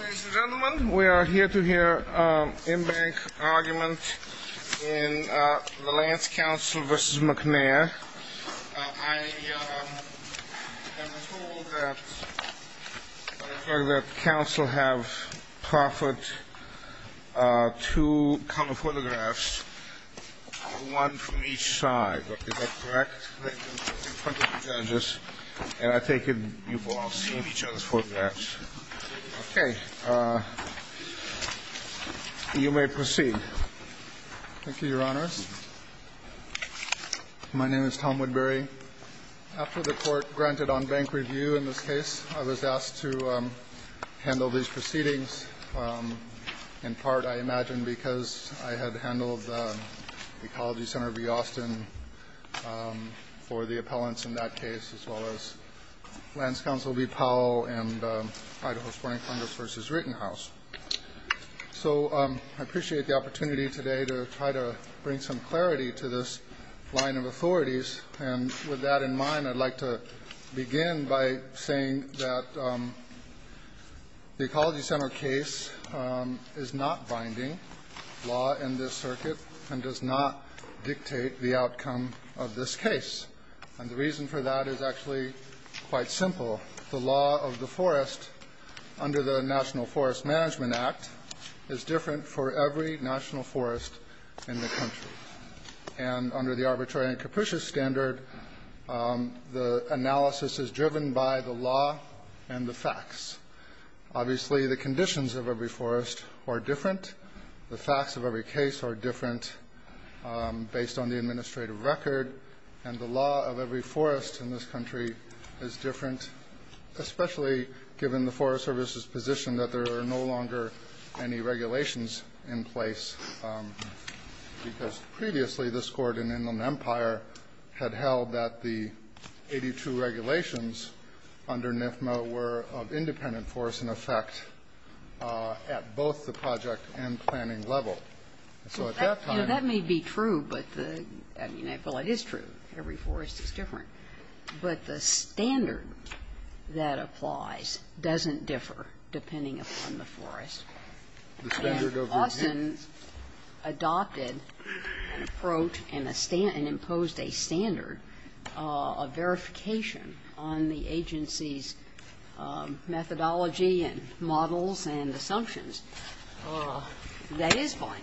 Ladies and gentlemen, we are here to hear an in-bank argument in the Lands Council v. McNair. I have been told that the Council have proffered two counter-photographs, one from each side. Is that correct? And I take it you've all seen each other's photographs. Okay. You may proceed. Thank you, Your Honors. My name is Tom Woodbury. After the court granted on-bank review in this case, I was asked to handle these proceedings. In part, I imagine, because I had handled the Ecology Center v. Austin for the appellants in that case, as well as Lands Council v. Powell and Idaho Sporting Plumbers v. Rittenhouse. So I appreciate the opportunity today to try to bring some clarity to this line of authorities. And with that in mind, I'd like to begin by saying that the Ecology Center case is not binding law in this circuit and does not dictate the outcome of this case. And the reason for that is actually quite simple. The law of the forest under the National Forest Management Act is different for every national forest in the country. And under the Arbitrary and Capricious Standard, the analysis is driven by the law and the facts. Obviously, the conditions of every forest are different. The facts of every case are different based on the administrative record. And the law of every forest in this country is different, especially given the Forest Service's position that there are no longer any regulations in place because previously this Court in Inland Empire had held that the 82 regulations under NIFMA were of independent force, in effect, at both the project and planning level. So at that time the law of every forest is different. But the standard that applies doesn't differ depending upon the forest. The standard of review. And Austin adopted an approach and imposed a standard of verification on the agency's methodology and models and assumptions. That is binding.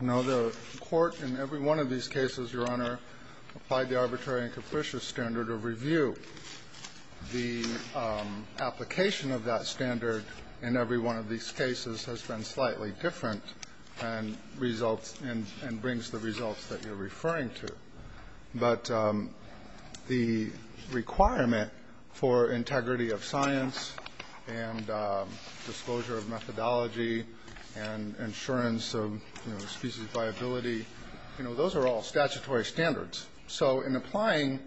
No. The Court in every one of these cases, Your Honor, applied the Arbitrary and Capricious Standard of review. The application of that standard in every one of these cases has been slightly different and brings the results that you're referring to. But the requirement for integrity of science and disclosure of methodology and insurance of species viability, those are all statutory standards. So in applying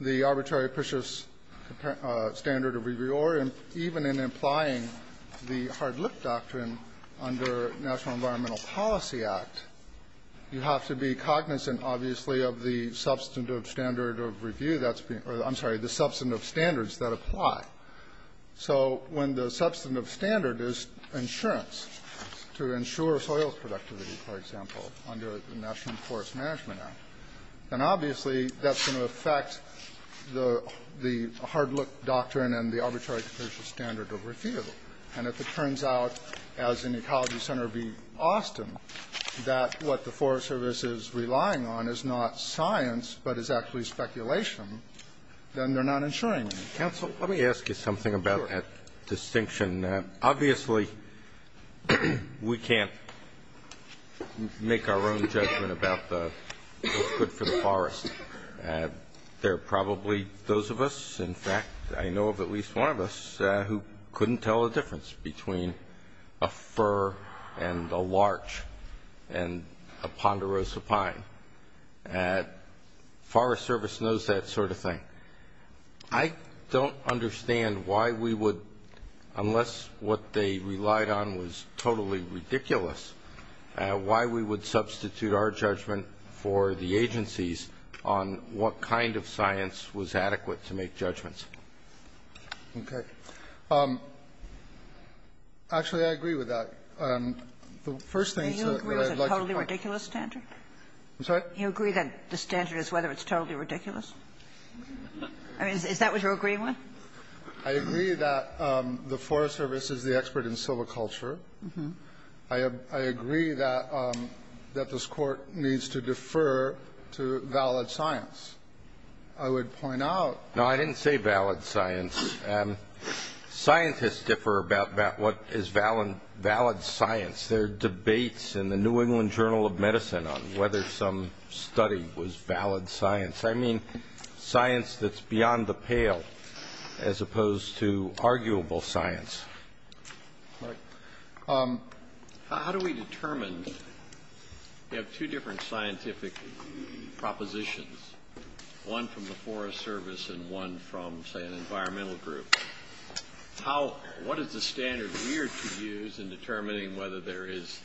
the Arbitrary and Capricious Standard of review, or even in applying the hard-lip doctrine under National Environmental Policy Act, you have to be cognizant, obviously, of the substantive standards that apply. So when the substantive standard is insurance to ensure soil productivity, for example, under the National Forest Management Act, then obviously that's going to affect the hard-lip doctrine and the Arbitrary and Capricious Standard of review. And if it turns out, as in Ecology Center v. Austin, that what the Forest Service is relying on is not science but is actually speculation, then they're not insuring you. Counsel, let me ask you something about that distinction. Obviously, we can't make our own judgment about what's good for the forest. There are probably those of us, in fact, I know of at least one of us, who couldn't tell the difference between a fir and a larch and a ponderosa pine. The Forest Service knows that sort of thing. I don't understand why we would, unless what they relied on was totally ridiculous, why we would substitute our judgment for the agency's on what kind of science was adequate to make judgments. Okay. Actually, I agree with that. I'm sorry? You agree that the standard is whether it's totally ridiculous? I mean, is that what you're agreeing with? I agree that the Forest Service is the expert in silviculture. I agree that this Court needs to defer to valid science. I would point out. No, I didn't say valid science. Scientists differ about what is valid science. There are debates in the New England Journal of Medicine on whether some study was valid science. I mean science that's beyond the pale, as opposed to arguable science. How do we determine? You have two different scientific propositions, one from the Forest Service and one from, say, an environmental group. What is the standard we are to use in determining whether there is,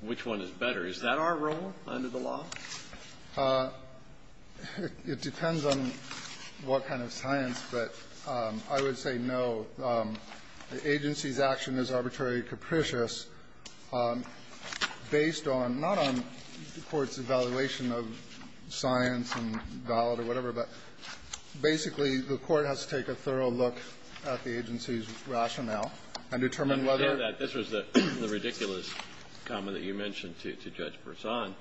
which one is better? Is that our role under the law? It depends on what kind of science, but I would say no. The agency's action is arbitrarily capricious based on, not on the Court's evaluation of science and valid or whatever, but basically the Court has to take a thorough look at the agency's rationale and determine whether or not. I understand that. This was the ridiculous comment that you mentioned to Judge Berzon.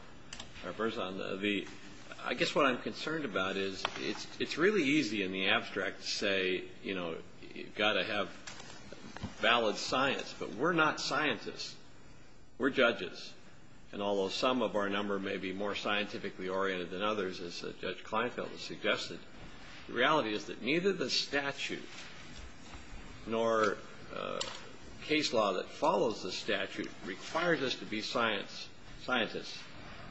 I guess what I'm concerned about is it's really easy in the abstract to say, you know, you've got to have valid science, but we're not scientists. We're judges. And although some of our number may be more scientifically oriented than others, as Judge Kleinfeld has suggested, the reality is that neither the statute nor case law that follows the statute requires us to be scientists.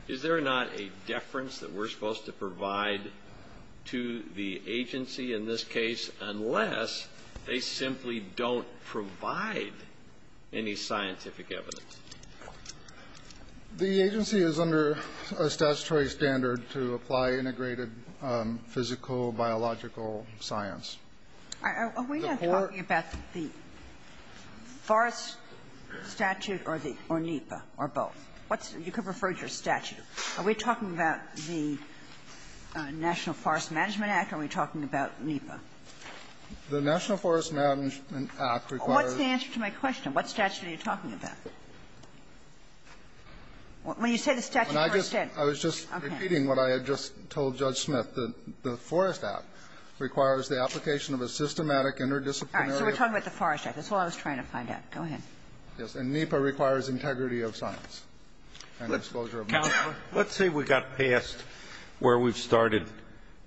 Is there not a deference that we're supposed to provide to the agency in this case unless they simply don't provide any scientific evidence? The agency is under a statutory standard to apply integrated physical, biological science. Are we not talking about the forest statute or the or NEPA or both? What's the you could refer to as statute. Are we talking about the National Forest Management Act, or are we talking about NEPA? The National Forest Management Act requires. What's the answer to my question? What statute are you talking about? When you say the statute, I understand. I was just repeating what I had just told Judge Smith. The forest act requires the application of a systematic interdisciplinary. All right. So we're talking about the forest act. That's all I was trying to find out. Go ahead. And NEPA requires integrity of science and disclosure of knowledge. Let's say we got past where we've started.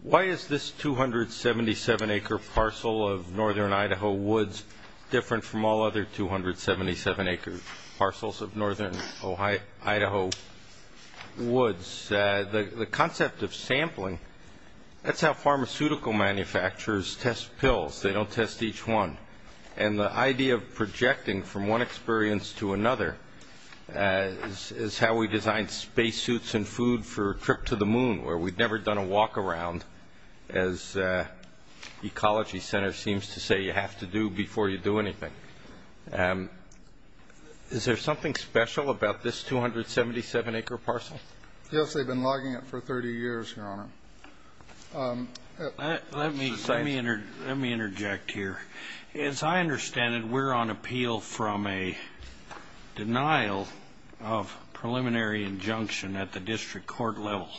Why is this 277-acre parcel of northern Idaho woods different from all other 277-acre parcels of northern Idaho woods? The concept of sampling, that's how pharmaceutical manufacturers test pills. They don't test each one. And the idea of projecting from one experience to another is how we design space suits and food for a trip to the moon, where we've never done a walk around, as Ecology Center seems to say you have to do before you do anything. Is there something special about this 277-acre parcel? Yes, they've been logging it for 30 years, Your Honor. Let me interject here. As I understand it, we're on appeal from a denial of preliminary injunction at the district court level.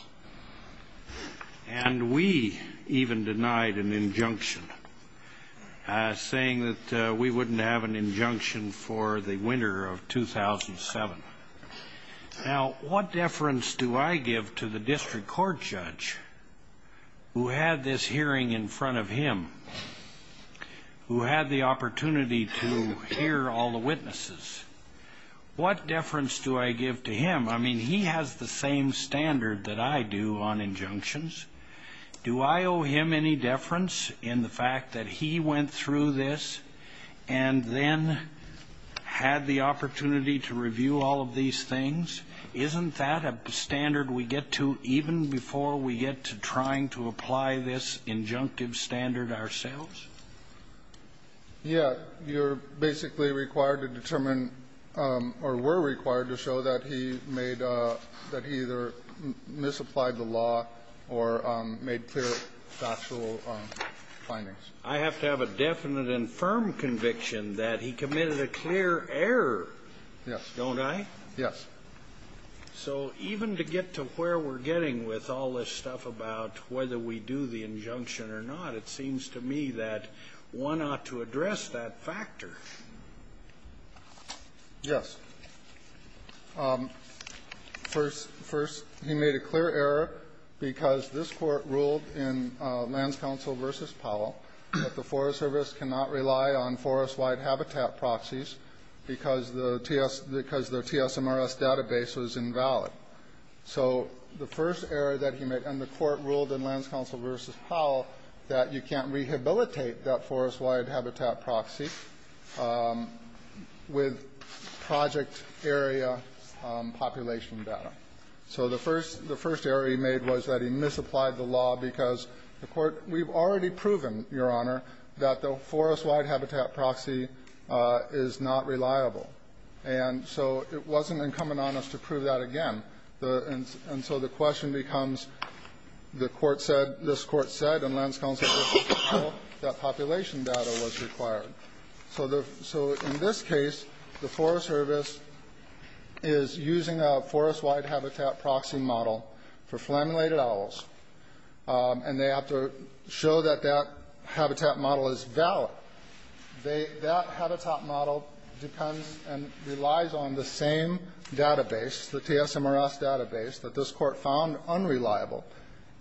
And we even denied an injunction, saying that we wouldn't have an injunction for the winter of 2007. Now, what deference do I give to the district court judge who had this hearing in front of him, who had the opportunity to hear all the witnesses? What deference do I give to him? I mean, he has the same standard that I do on injunctions. Do I owe him any deference in the fact that he went through this and then had the opportunity to review all of these things? Isn't that a standard we get to even before we get to trying to apply this injunctive standard ourselves? Yeah. You're basically required to determine or were required to show that he made or that he either misapplied the law or made clear factual findings. I have to have a definite and firm conviction that he committed a clear error. Yes. Don't I? Yes. So even to get to where we're getting with all this stuff about whether we do the injunction or not, it seems to me that one ought to address that factor. Yes. First, he made a clear error because this court ruled in Lands Council v. Powell that the Forest Service cannot rely on forest-wide habitat proxies because the TSMRS database was invalid. So the first error that he made, and the court ruled in Lands Council v. Powell that you can't rehabilitate that forest-wide habitat proxy with project area population data. So the first error he made was that he misapplied the law because the court, we've already proven, Your Honor, that the forest-wide habitat proxy is not reliable. And so it wasn't incumbent on us to prove that again. And so the question becomes, the court said, this court said in Lands Council v. Powell that population data was required. So in this case, the Forest Service is using a forest-wide habitat proxy model for flammulated owls, and they have to show that that habitat model is valid. That habitat model depends and relies on the same database, the TSMRS database, that this court found unreliable.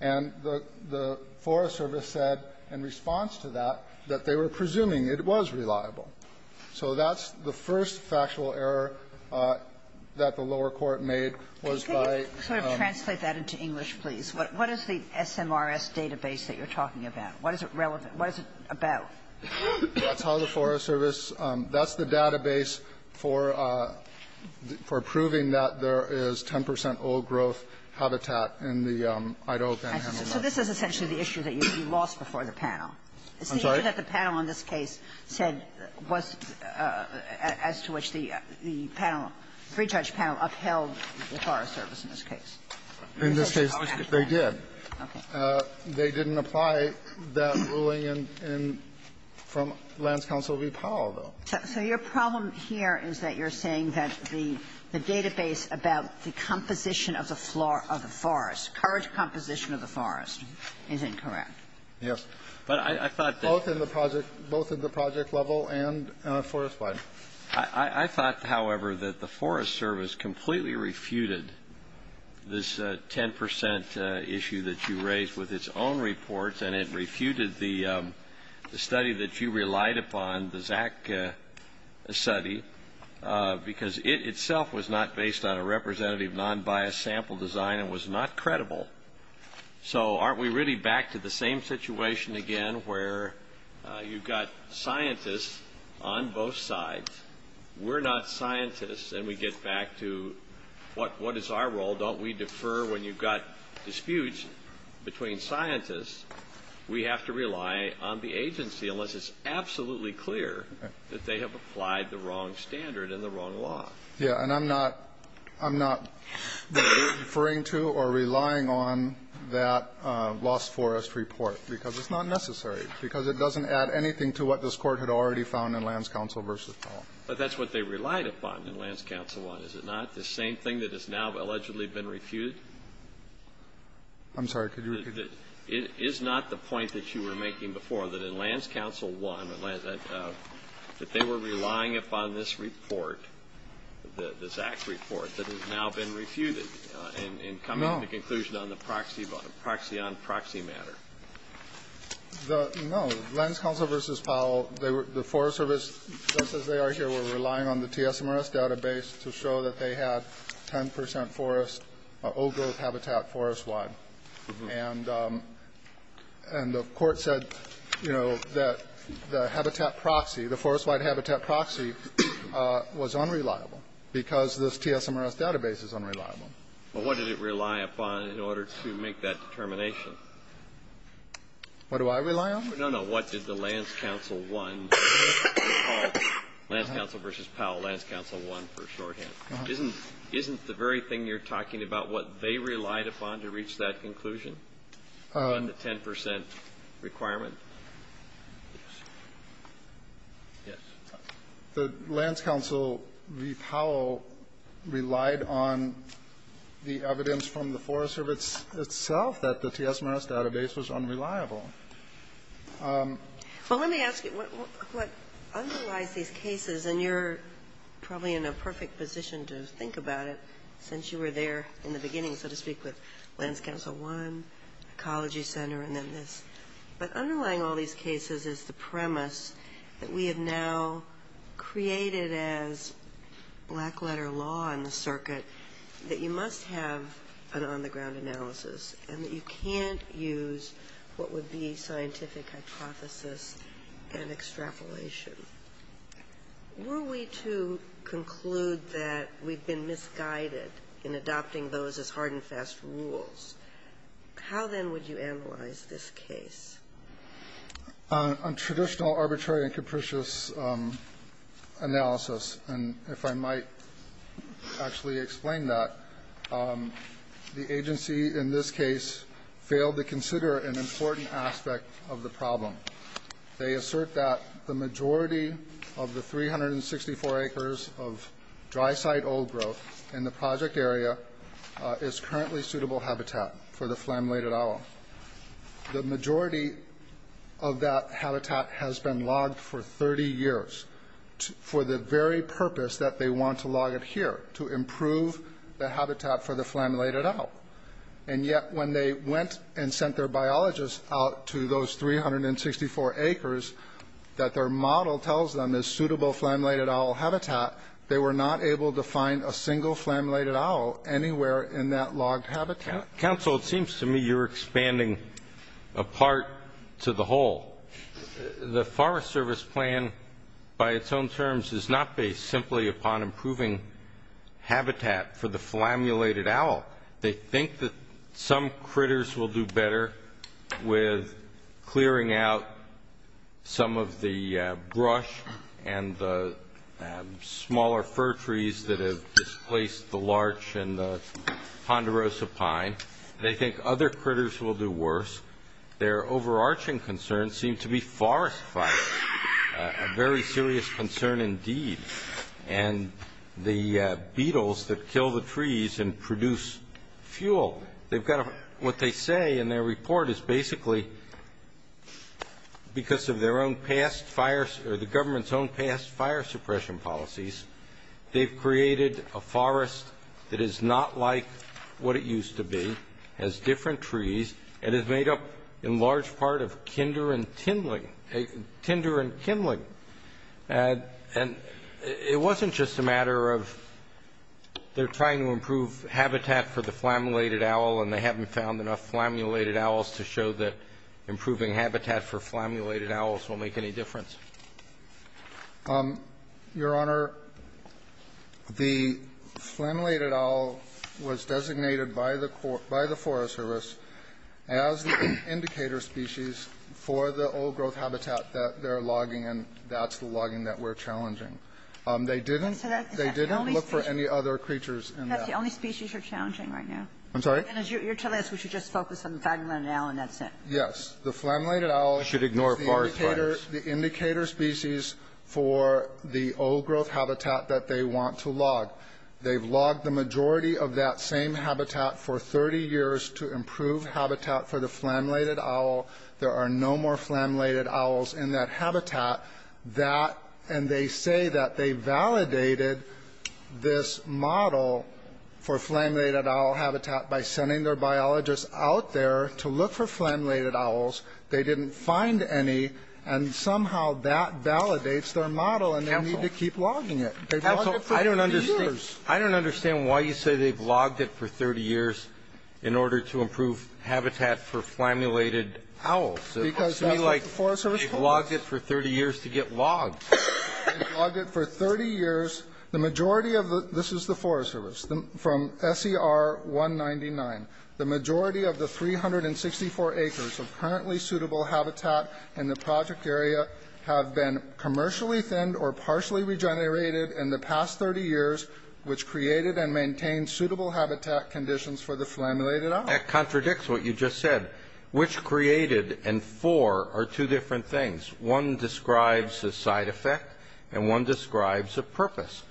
And the Forest Service said in response to that that they were presuming it was reliable. So that's the first factual error that the lower court made was by the law. That's how the Forest Service, that's the database for proving that there is 10 percent old growth habitat in the Idaho Panhandle. Kagan. So this is essentially the issue that you lost before the panel. I'm sorry? It's the issue that the panel on this case said was as to which the panel, pre-judge panel, upheld the Forest Service in this case. In this case, they did. Okay. They didn't apply that ruling from Lands Council v. Powell, though. So your problem here is that you're saying that the database about the composition of the forest, current composition of the forest, is incorrect. Yes. Both in the project level and forest-wide. I thought, however, that the Forest Service completely refuted this 10 percent issue that you raised with its own reports, and it refuted the study that you relied upon, the Zach study, because it itself was not based on a representative, non-biased sample design and was not credible. So aren't we really back to the same situation again where you've got scientists on both sides, we're not scientists, and we get back to what is our role? Don't we defer when you've got disputes between scientists? We have to rely on the agency unless it's absolutely clear that they have applied the wrong standard and the wrong law. Yes. And I'm not referring to or relying on that lost forest report because it's not necessary, because it doesn't add anything to what this Court had already found in Lands Council v. Powell. But that's what they relied upon in Lands Council, is it not? The same thing that has now allegedly been refuted? I'm sorry. Could you repeat that? It is not the point that you were making before, that in Lands Council 1, that they were relying upon this report, the Zach report, that has now been refuted and coming to the conclusion on the proxy matter. No. Lands Council v. Powell, the Forest Service, just as they are here, they were relying on the TSMRS database to show that they had 10 percent forest, old-growth habitat forest-wide. And the Court said, you know, that the habitat proxy, the forest-wide habitat proxy, was unreliable because this TSMRS database is unreliable. Well, what did it rely upon in order to make that determination? What do I rely on? No, no. What did the Lands Council 1 recall? Lands Council v. Powell, Lands Council 1 for shorthand. Isn't the very thing you're talking about what they relied upon to reach that conclusion on the 10 percent requirement? Yes. The Lands Council v. Powell relied on the evidence from the Forest Service itself that the TSMRS database was unreliable. Well, let me ask you, what underlies these cases, and you're probably in a perfect position to think about it since you were there in the beginning, so to speak, with Lands Council 1, Ecology Center, and then this. But underlying all these cases is the premise that we have now created as black-letter law on the circuit that you must have an on-the-ground analysis and that you can't use what would be scientific hypothesis and extrapolation. Were we to conclude that we've been misguided in adopting those as hard-and-fast rules, how then would you analyze this case? On traditional arbitrary and capricious analysis, and if I might actually explain that, the agency in this case failed to consider an important aspect of the problem. They assert that the majority of the 364 acres of dry-site old growth in the project area is currently suitable habitat for the flammulated owl. The majority of that habitat has been logged for 30 years for the very purpose that they want to log it here, to improve the habitat for the flammulated owl. And yet when they went and sent their biologists out to those 364 acres, that their model tells them is suitable flammulated owl habitat. They were not able to find a single flammulated owl anywhere in that logged habitat. Counsel, it seems to me you're expanding apart to the whole. The Forest Service plan by its own terms is not based simply upon improving habitat for the flammulated owl. They think that some critters will do better with clearing out some of the brush and the smaller fir trees that have displaced the larch and the ponderosa pine. They think other critters will do worse. Their overarching concerns seem to be forest fires, a very serious concern indeed, and the beetles that kill the trees and produce fuel. What they say in their report is basically because of the government's own past fire suppression policies, they've created a forest that is not like what it used to be, has different trees, and is made up in large part of tinder and kindling. And it wasn't just a matter of they're trying to improve habitat for the flammulated owl and they haven't found enough flammulated owls to show that improving habitat for flammulated owls will make any difference. Your Honor, the flammulated owl was designated by the Forest Service as the indicator species for the old growth habitat that they're logging, and that's the logging that we're challenging. They didn't look for any other creatures in that. That's the only species you're challenging right now? I'm sorry? And you're telling us we should just focus on the flammulated owl and that's it? Yes. The flammulated owl is the indicator species for the old growth habitat that they want to log. They've logged the majority of that same habitat for 30 years to improve habitat for the flammulated owl. There are no more flammulated owls in that habitat. And they say that they validated this model for flammulated owl habitat by sending their biologists out there to look for flammulated owls. They didn't find any, and somehow that validates their model and they need to keep logging it. Counsel, I don't understand. I don't understand why you say they've logged it for 30 years in order to improve habitat for flammulated owls. Because that's what the Forest Service does. It looks to me like they've logged it for 30 years to get logged. They've logged it for 30 years. The majority of the – this is the Forest Service, from SER 199. The majority of the 364 acres of currently suitable habitat in the project area have been commercially thinned or partially regenerated in the past 30 years, which created and maintained suitable habitat conditions for the flammulated owl. That contradicts what you just said. Which created and for are two different things. One describes a side effect and one describes a purpose.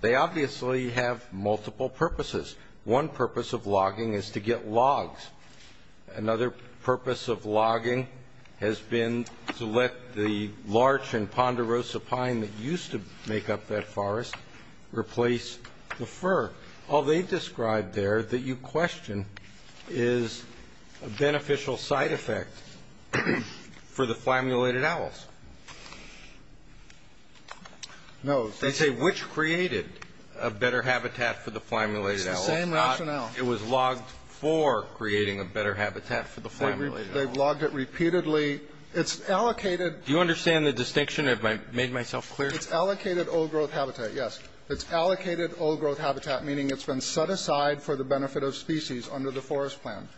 They obviously have multiple purposes. One purpose of logging is to get logs. Another purpose of logging has been to let the larch and ponderosa pine that used to make up that forest replace the fir. All they've described there that you question is a beneficial side effect for the flammulated owls. No. They say which created a better habitat for the flammulated owls. It's the same rationale. It was logged for creating a better habitat for the flammulated owls. They've logged it repeatedly. It's allocated – Do you understand the distinction? Have I made myself clear? It's allocated old-growth habitat, yes. It's allocated old-growth habitat, meaning it's been set aside for the benefit of species under the forest plan.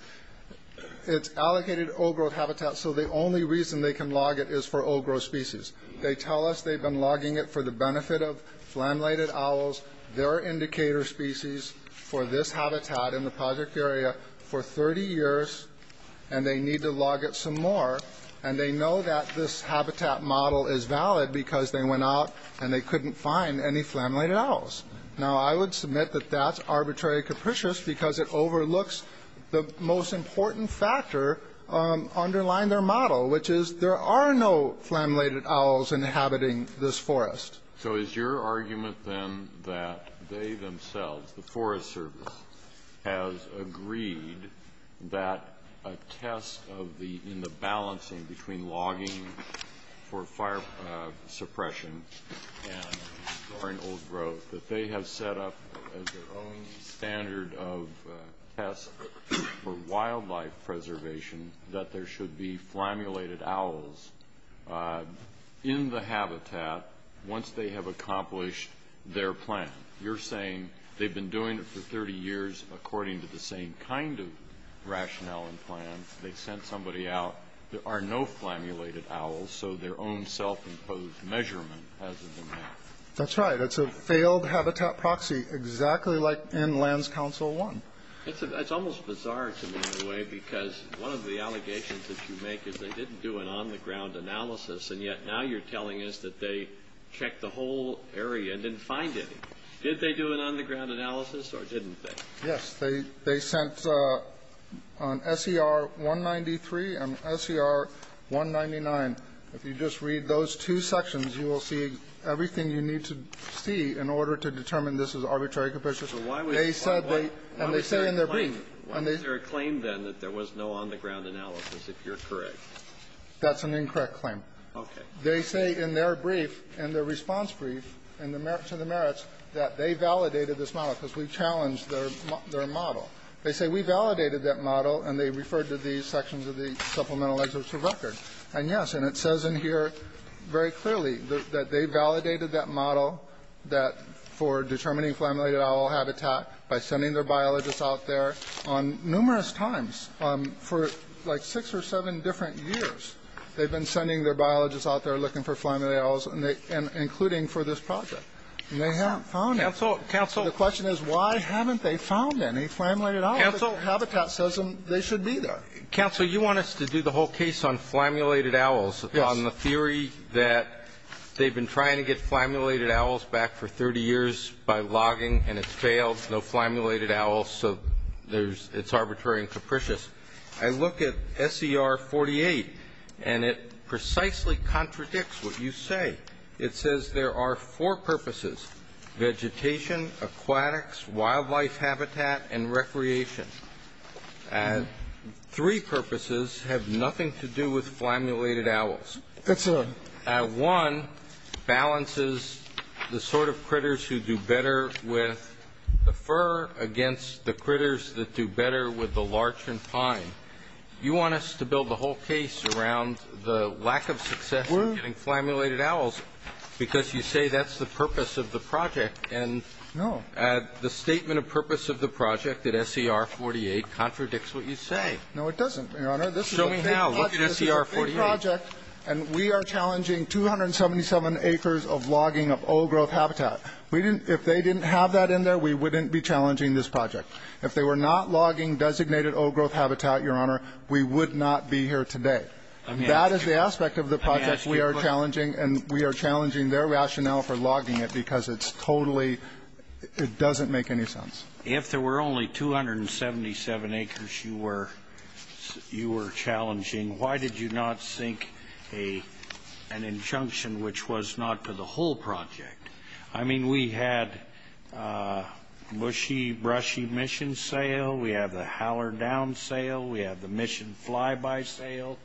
It's allocated old-growth habitat, so the only reason they can log it is for old-growth species. They tell us they've been logging it for the benefit of flammulated owls, their indicator species for this habitat in the project area for 30 years, and they need to log it some more. And they know that this habitat model is valid because they went out and they couldn't find any flammulated owls. Now, I would submit that that's arbitrary capricious because it overlooks the most important factor underlying their model, which is there are no flammulated owls inhabiting this forest. So is your argument, then, that they themselves, the Forest Service, has agreed that a test in the balancing between logging for fire suppression and storing old-growth, that they have set up as their own standard of test for wildlife preservation that there should be flammulated owls in the habitat once they have accomplished their plan? You're saying they've been doing it for 30 years according to the same kind of rationale and plan. They sent somebody out. There are no flammulated owls, so their own self-imposed measurement hasn't been met. That's right. It's a failed habitat proxy, exactly like in Lands Council 1. It's almost bizarre to me, in a way, because one of the allegations that you make is they didn't do an on-the-ground analysis, and yet now you're telling us that they checked the whole area and didn't find any. Did they do an on-the-ground analysis, or didn't they? Yes. They sent an SER-193 and an SER-199. If you just read those two sections, you will see everything you need to see in order to determine this is arbitrary capitious. So why was there a claim, then, that there was no on-the-ground analysis, if you're correct? That's an incorrect claim. Okay. They say in their brief, in their response brief, to the merits, that they validated this model because we challenged their model. They say we validated that model, and they referred to these sections of the supplemental excerpts for record. And, yes, and it says in here very clearly that they validated that model for determining flammulated owl habitat by sending their biologists out there on numerous times for like six or seven different years. They've been sending their biologists out there looking for flammulated owls, including for this project. And they haven't found any. Counsel, counsel. The question is, why haven't they found any flammulated owls? Counsel. Habitat says they should be there. Counsel, you want us to do the whole case on flammulated owls, on the theory that they've been trying to get flammulated owls back for 30 years by logging, and it failed, no flammulated owls, so it's arbitrary and capricious. I look at SER 48, and it precisely contradicts what you say. It says there are four purposes, vegetation, aquatics, wildlife habitat, and recreation. Three purposes have nothing to do with flammulated owls. That's right. One balances the sort of critters who do better with the fur against the critters that do better with the larch and pine. You want us to build the whole case around the lack of success of getting flammulated owls, because you say that's the purpose of the project. And the statement of purpose of the project at SER 48 contradicts what you say. No, it doesn't, Your Honor. Show me how. Look at SER 48. This is a project, and we are challenging 277 acres of logging of old-growth habitat. If they didn't have that in there, we wouldn't be challenging this project. If they were not logging designated old-growth habitat, Your Honor, we would not be here today. That is the aspect of the project we are challenging, and we are challenging their rationale for logging it because it's totally ‑‑ it doesn't make any sense. If there were only 277 acres you were challenging, why did you not sink an injunction which was not to the whole project? I mean, we had a mushy, brushy mission sale. We have the Howler Down sale. We have the Mission Flyby sale.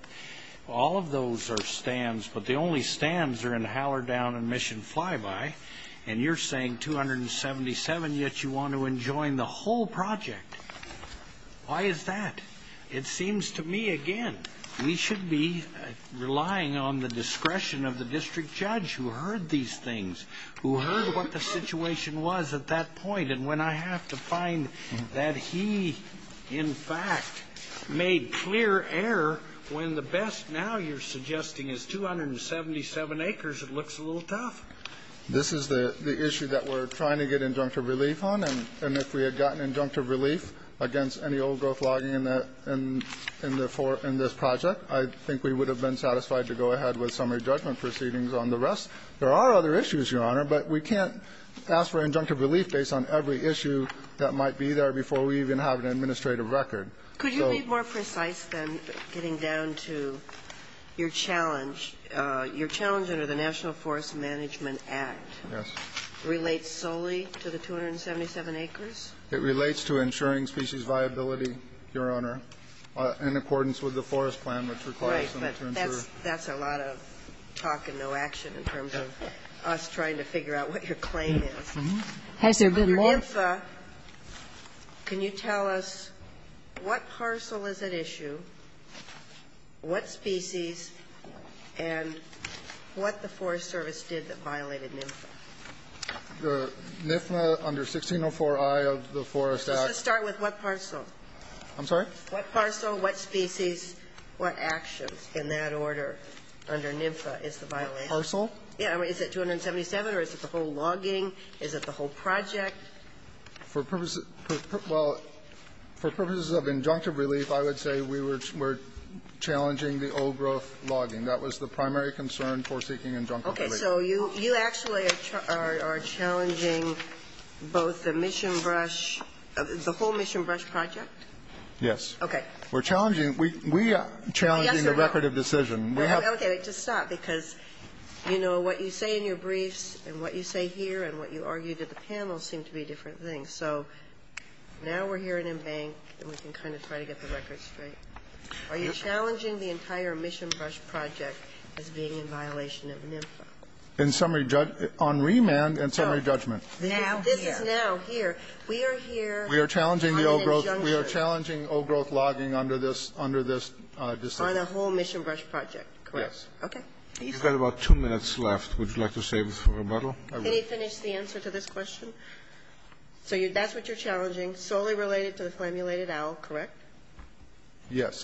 All of those are stands, but the only stands are in Howler Down and Mission Flyby, and you're saying 277, yet you want to enjoin the whole project. Why is that? It seems to me, again, we should be relying on the discretion of the district judge who heard these things, who heard what the situation was at that point, and when I have to find that he, in fact, made clear error when the best now you're suggesting is 277 acres, it looks a little tough. This is the issue that we're trying to get injunctive relief on, and if we had gotten injunctive relief against any old-growth logging in this project, I think we would have been satisfied to go ahead with summary judgment proceedings on the rest. There are other issues, Your Honor, but we can't ask for injunctive relief based on every issue that might be there before we even have an administrative record. Could you be more precise than getting down to your challenge? Your challenge under the National Forest Management Act relates solely to the 277 acres? It relates to ensuring species viability, Your Honor, in accordance with the forest plan, which requires them to ensure. That's a lot of talk and no action in terms of us trying to figure out what your claim is. Has there been more? Under NIFA, can you tell us what parcel is at issue, what species, and what the Forest Service did that violated NIFA? The NIFA under 1604i of the Forest Act. Let's just start with what parcel. I'm sorry? What parcel, what species, what actions in that order under NIFA is the violation? Parcel? Yeah. Is it 277 or is it the whole logging? Is it the whole project? For purposes of injunctive relief, I would say we were challenging the old-growth logging. That was the primary concern for seeking injunctive relief. Okay. So you actually are challenging both the Mission Brush, the whole Mission Brush project? Yes. Okay. We're challenging. We are challenging the record of decision. Okay. Just stop, because, you know, what you say in your briefs and what you say here and what you argue to the panel seem to be different things. So now we're here in Embank and we can kind of try to get the record straight. Are you challenging the entire Mission Brush project as being in violation of NIFA? Now here. This is now here. We are here on injunctive. We are challenging the old-growth. We are challenging old-growth logging under this decision. On the whole Mission Brush project, correct? Yes. Okay. You've got about two minutes left. Would you like to save for rebuttal? Can you finish the answer to this question? So that's what you're challenging, solely related to the flammulated owl, correct?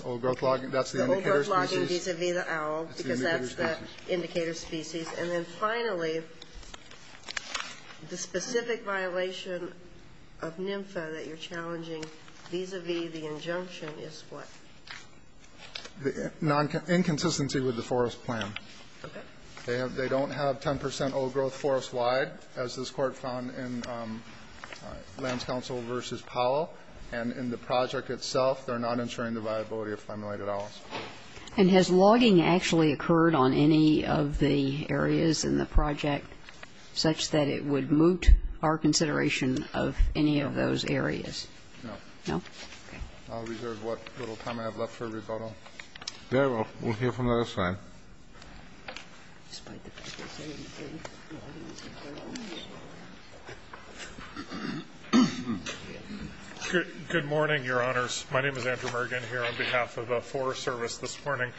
Old-growth logging. That's the indicator species. Old-growth logging vis-a-vis the owl, because that's the indicator species. And then finally, the specific violation of NIFA that you're challenging vis-a-vis the injunction is what? Inconsistency with the forest plan. Okay. They don't have 10 percent old-growth forest-wide, as this Court found in Lands Council v. Powell. And in the project itself, they're not ensuring the viability of flammulated owls. And has logging actually occurred on any of the areas in the project such that it would moot our consideration of any of those areas? No. No? Okay. I'll reserve what little time I have left for rebuttal. Very well. We'll hear from the other side. Good morning, Your Honors. My name is Andrew Mergen, here on behalf of the Forest Service this morning.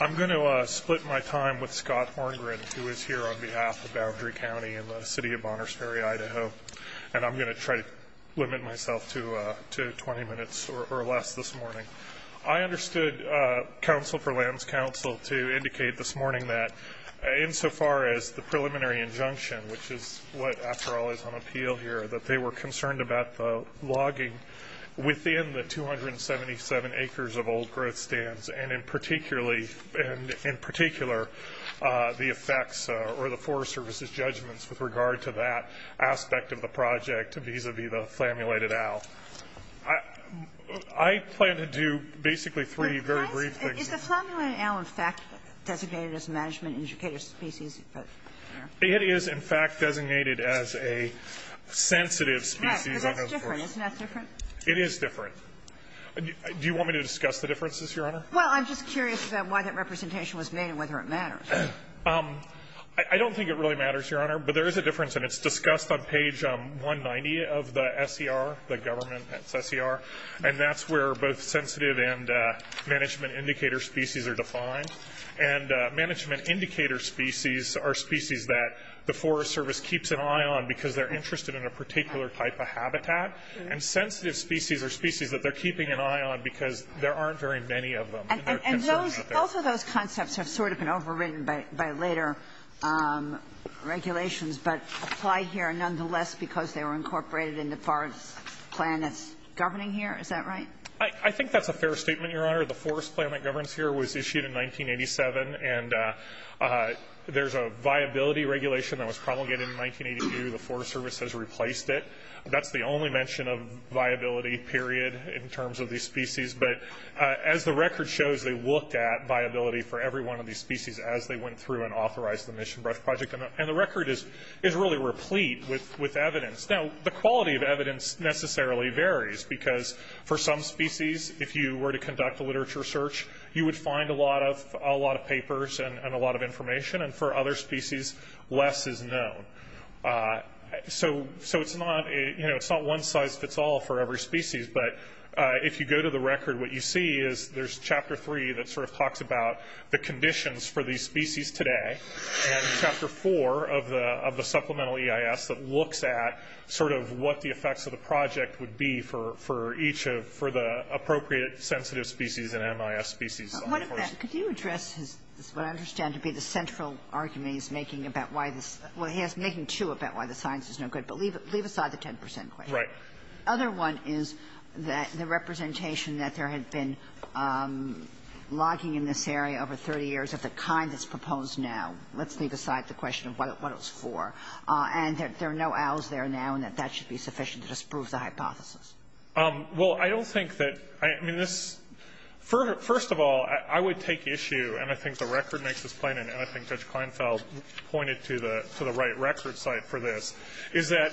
I'm going to split my time with Scott Horngren, who is here on behalf of Boundary County and the City of Bonners Ferry, Idaho. And I'm going to try to limit myself to 20 minutes or less this morning. I understood Council for Lands Council to indicate this morning that insofar as the preliminary injunction, which is what, after all, is on appeal here, that they were concerned about the logging within the 277 acres of old-growth stands, and in particular the effects or the Forest Service's judgments with regard to that aspect of the project vis-a-vis the flammulated owl. I plan to do basically three very brief things. Is the flammulated owl in fact designated as a management-educated species? It is, in fact, designated as a sensitive species. Right, but that's different. Isn't that different? It is different. Do you want me to discuss the differences, Your Honor? Well, I'm just curious about why that representation was made and whether it matters. I don't think it really matters, Your Honor. But there is a difference, and it's discussed on page 190 of the SER, the government SER, and that's where both sensitive and management-indicator species are defined. And management-indicator species are species that the Forest Service keeps an eye on because they're interested in a particular type of habitat. And sensitive species are species that they're keeping an eye on because there aren't very many of them. And both of those concepts have sort of been overridden by later regulations, but applied here nonetheless because they were incorporated in the forest plan that's governing here. Is that right? I think that's a fair statement, Your Honor. The forest plan that governs here was issued in 1987, and there's a viability regulation that was promulgated in 1982. The Forest Service has replaced it. That's the only mention of viability period in terms of these species. But as the record shows, they looked at viability for every one of these species as they went through and authorized the Mission Brush Project. And the record is really replete with evidence. Now, the quality of evidence necessarily varies because for some species, if you were to conduct a literature search, you would find a lot of papers and a lot of information. And for other species, less is known. So it's not one size fits all for every species. But if you go to the record, what you see is there's Chapter 3 that sort of talks about the conditions for these species today and Chapter 4 of the supplemental EIS that looks at sort of what the effects of the project would be for each of the appropriate sensitive species and MIS species. Kagan. Could you address what I understand to be the central argument he's making about why this – well, he is making two about why the science is no good, but leave aside the 10 percent question. Right. The other one is that the representation that there had been logging in this area over 30 years of the kind that's proposed now, let's leave aside the question of what it was for, and that there are no owls there now and that that should be sufficient to disprove the hypothesis. Well, I don't think that – I mean, this – first of all, I would take issue, and I think the record makes this plain, and I think Judge Kleinfeld pointed to the right record site for this, is that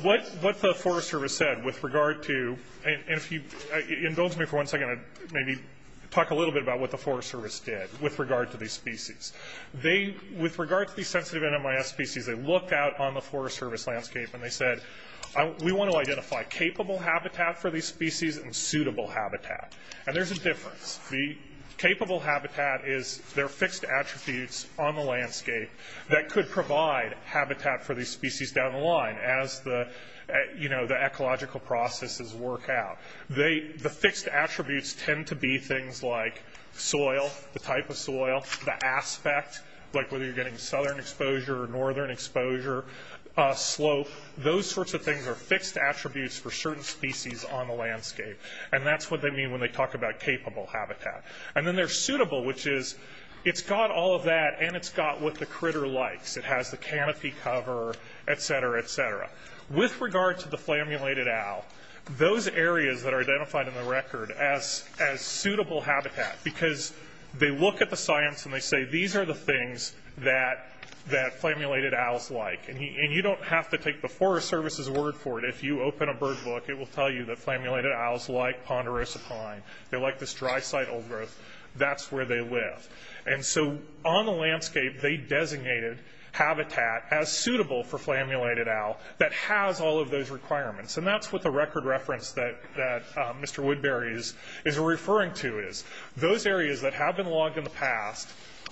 what the Forest Service said with regard to – and if you indulge me for one second, I'd maybe talk a little bit about what the Forest Service did with regard to these species. They – with regard to these sensitive MIS species, they looked out on the Forest Service landscape and they said, we want to identify capable habitat for these species and suitable habitat. And there's a difference. The capable habitat is their fixed attributes on the landscape that could provide habitat for these species down the line as the, you know, the ecological processes work out. They – the fixed attributes tend to be things like soil, the type of soil, the aspect, like whether you're getting southern exposure or northern exposure, slope. Those sorts of things are fixed attributes for certain species on the landscape, and that's what they mean when they talk about capable habitat. And then there's suitable, which is it's got all of that and it's got what the critter likes. It has the canopy cover, et cetera, et cetera. With regard to the flammulated owl, those areas that are identified in the record as suitable habitat because they look at the science and they say, these are the things that flammulated owls like. And you don't have to take the Forest Service's word for it. If you open a bird book, it will tell you that flammulated owls like ponderosa pine. They like this dry site old growth. That's where they live. And so on the landscape, they designated habitat as suitable for flammulated owl that has all of those requirements. And that's what the record reference that Mr. Woodbury is referring to is. Those areas that have been logged in the past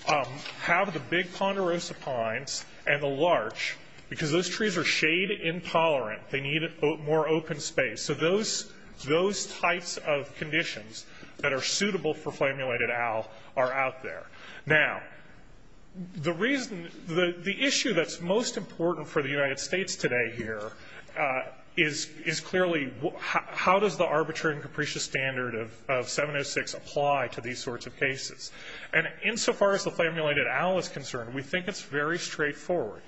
have the big ponderosa pines and the larch because those trees are shade intolerant. They need more open space. So those types of conditions that are suitable for flammulated owl are out there. Now, the issue that's most important for the United States today here is clearly how does the arbitrary and capricious standard of 706 apply to these sorts of cases? And insofar as the flammulated owl is concerned, we think it's very straightforward.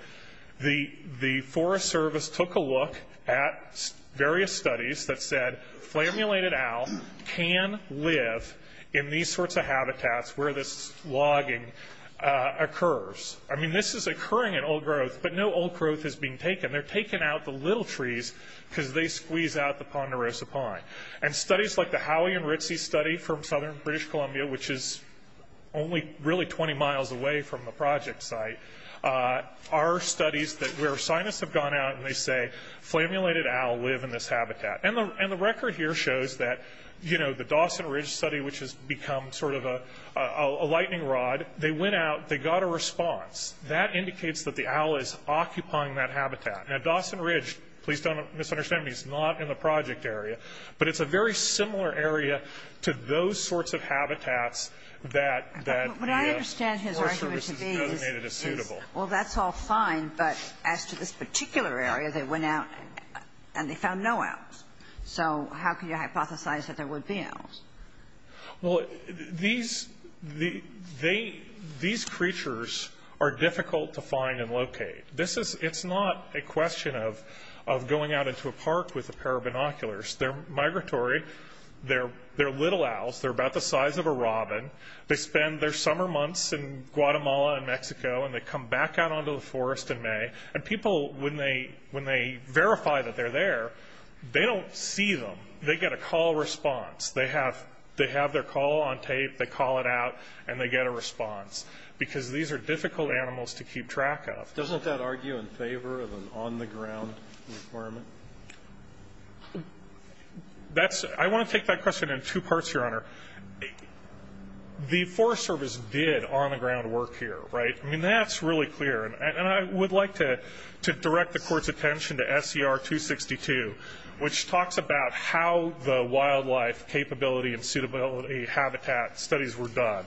The Forest Service took a look at various studies that said flammulated owl can live in these sorts of habitats where this logging occurs. I mean, this is occurring in old growth, but no old growth is being taken. They're taking out the little trees because they squeeze out the ponderosa pine. And studies like the Howie and Ritzy study from southern British Columbia, which is only really 20 miles away from the project site, are studies where scientists have gone out and they say flammulated owl live in this habitat. And the record here shows that, you know, the Dawson Ridge study, which has become sort of a lightning rod, they went out, they got a response. That indicates that the owl is occupying that habitat. Now, Dawson Ridge, please don't misunderstand me, is not in the project area. But it's a very similar area to those sorts of habitats that the Forest Service has designated as suitable. Well, that's all fine, but as to this particular area, they went out and they found no owls. So how can you hypothesize that there would be owls? Well, these creatures are difficult to find and locate. It's not a question of going out into a park with a pair of binoculars. They're migratory. They're little owls. They're about the size of a robin. They spend their summer months in Guatemala and Mexico, and they come back out onto the forest in May. And people, when they verify that they're there, they don't see them. They get a call response. They have their call on tape, they call it out, and they get a response. Because these are difficult animals to keep track of. Doesn't that argue in favor of an on-the-ground requirement? I want to take that question in two parts, Your Honor. The Forest Service did on-the-ground work here, right? I mean, that's really clear. And I would like to direct the Court's attention to SCR 262, which talks about how the wildlife capability and suitability habitat studies were done.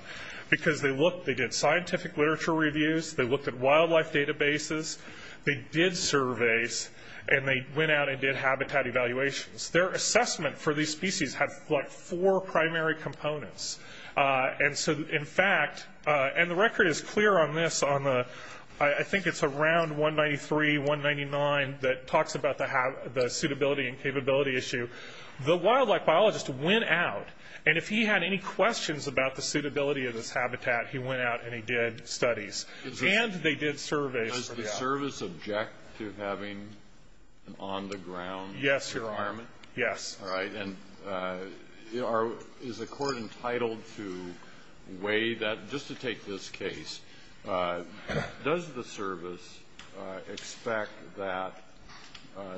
Because they did scientific literature reviews, they looked at wildlife databases, they did surveys, and they went out and did habitat evaluations. Their assessment for these species had, like, four primary components. And so, in fact, and the record is clear on this on the ‑‑ I think it's around 193, 199 that talks about the suitability and capability issue. The wildlife biologist went out, and if he had any questions about the suitability of this habitat, he went out and he did studies. And they did surveys. Does the service object to having an on-the-ground requirement? Yes, Your Honor. Yes. All right. And is the Court entitled to weigh that? Just to take this case, does the service expect that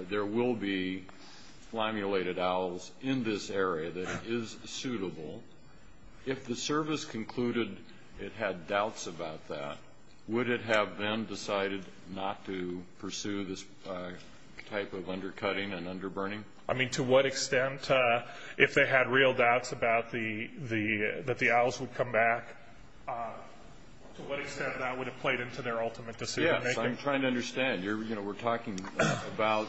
there will be flammulated owls in this area that is suitable? If the service concluded it had doubts about that, would it have then decided not to pursue this type of undercutting and underburning? I mean, to what extent, if they had real doubts that the owls would come back, to what extent that would have played into their ultimate decision making? Yes, I'm trying to understand. You know, we're talking about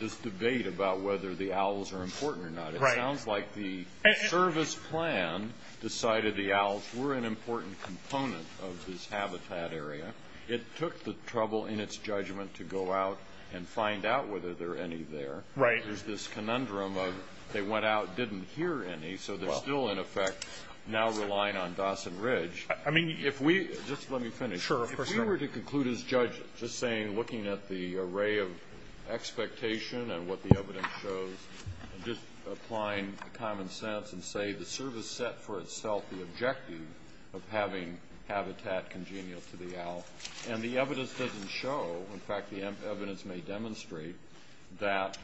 this debate about whether the owls are important or not. Right. It sounds like the service plan decided the owls were an important component of this habitat area. It took the trouble in its judgment to go out and find out whether there are any there. Right. There's this conundrum of they went out, didn't hear any, so they're still, in effect, now relying on Dawson Ridge. I mean, if we – just let me finish. Sure. If we were to conclude as judges, just saying looking at the array of expectation and what the evidence shows, just applying common sense and say the service set for itself the objective of having habitat congenial to the owl, and the evidence doesn't show, in fact, the evidence may demonstrate that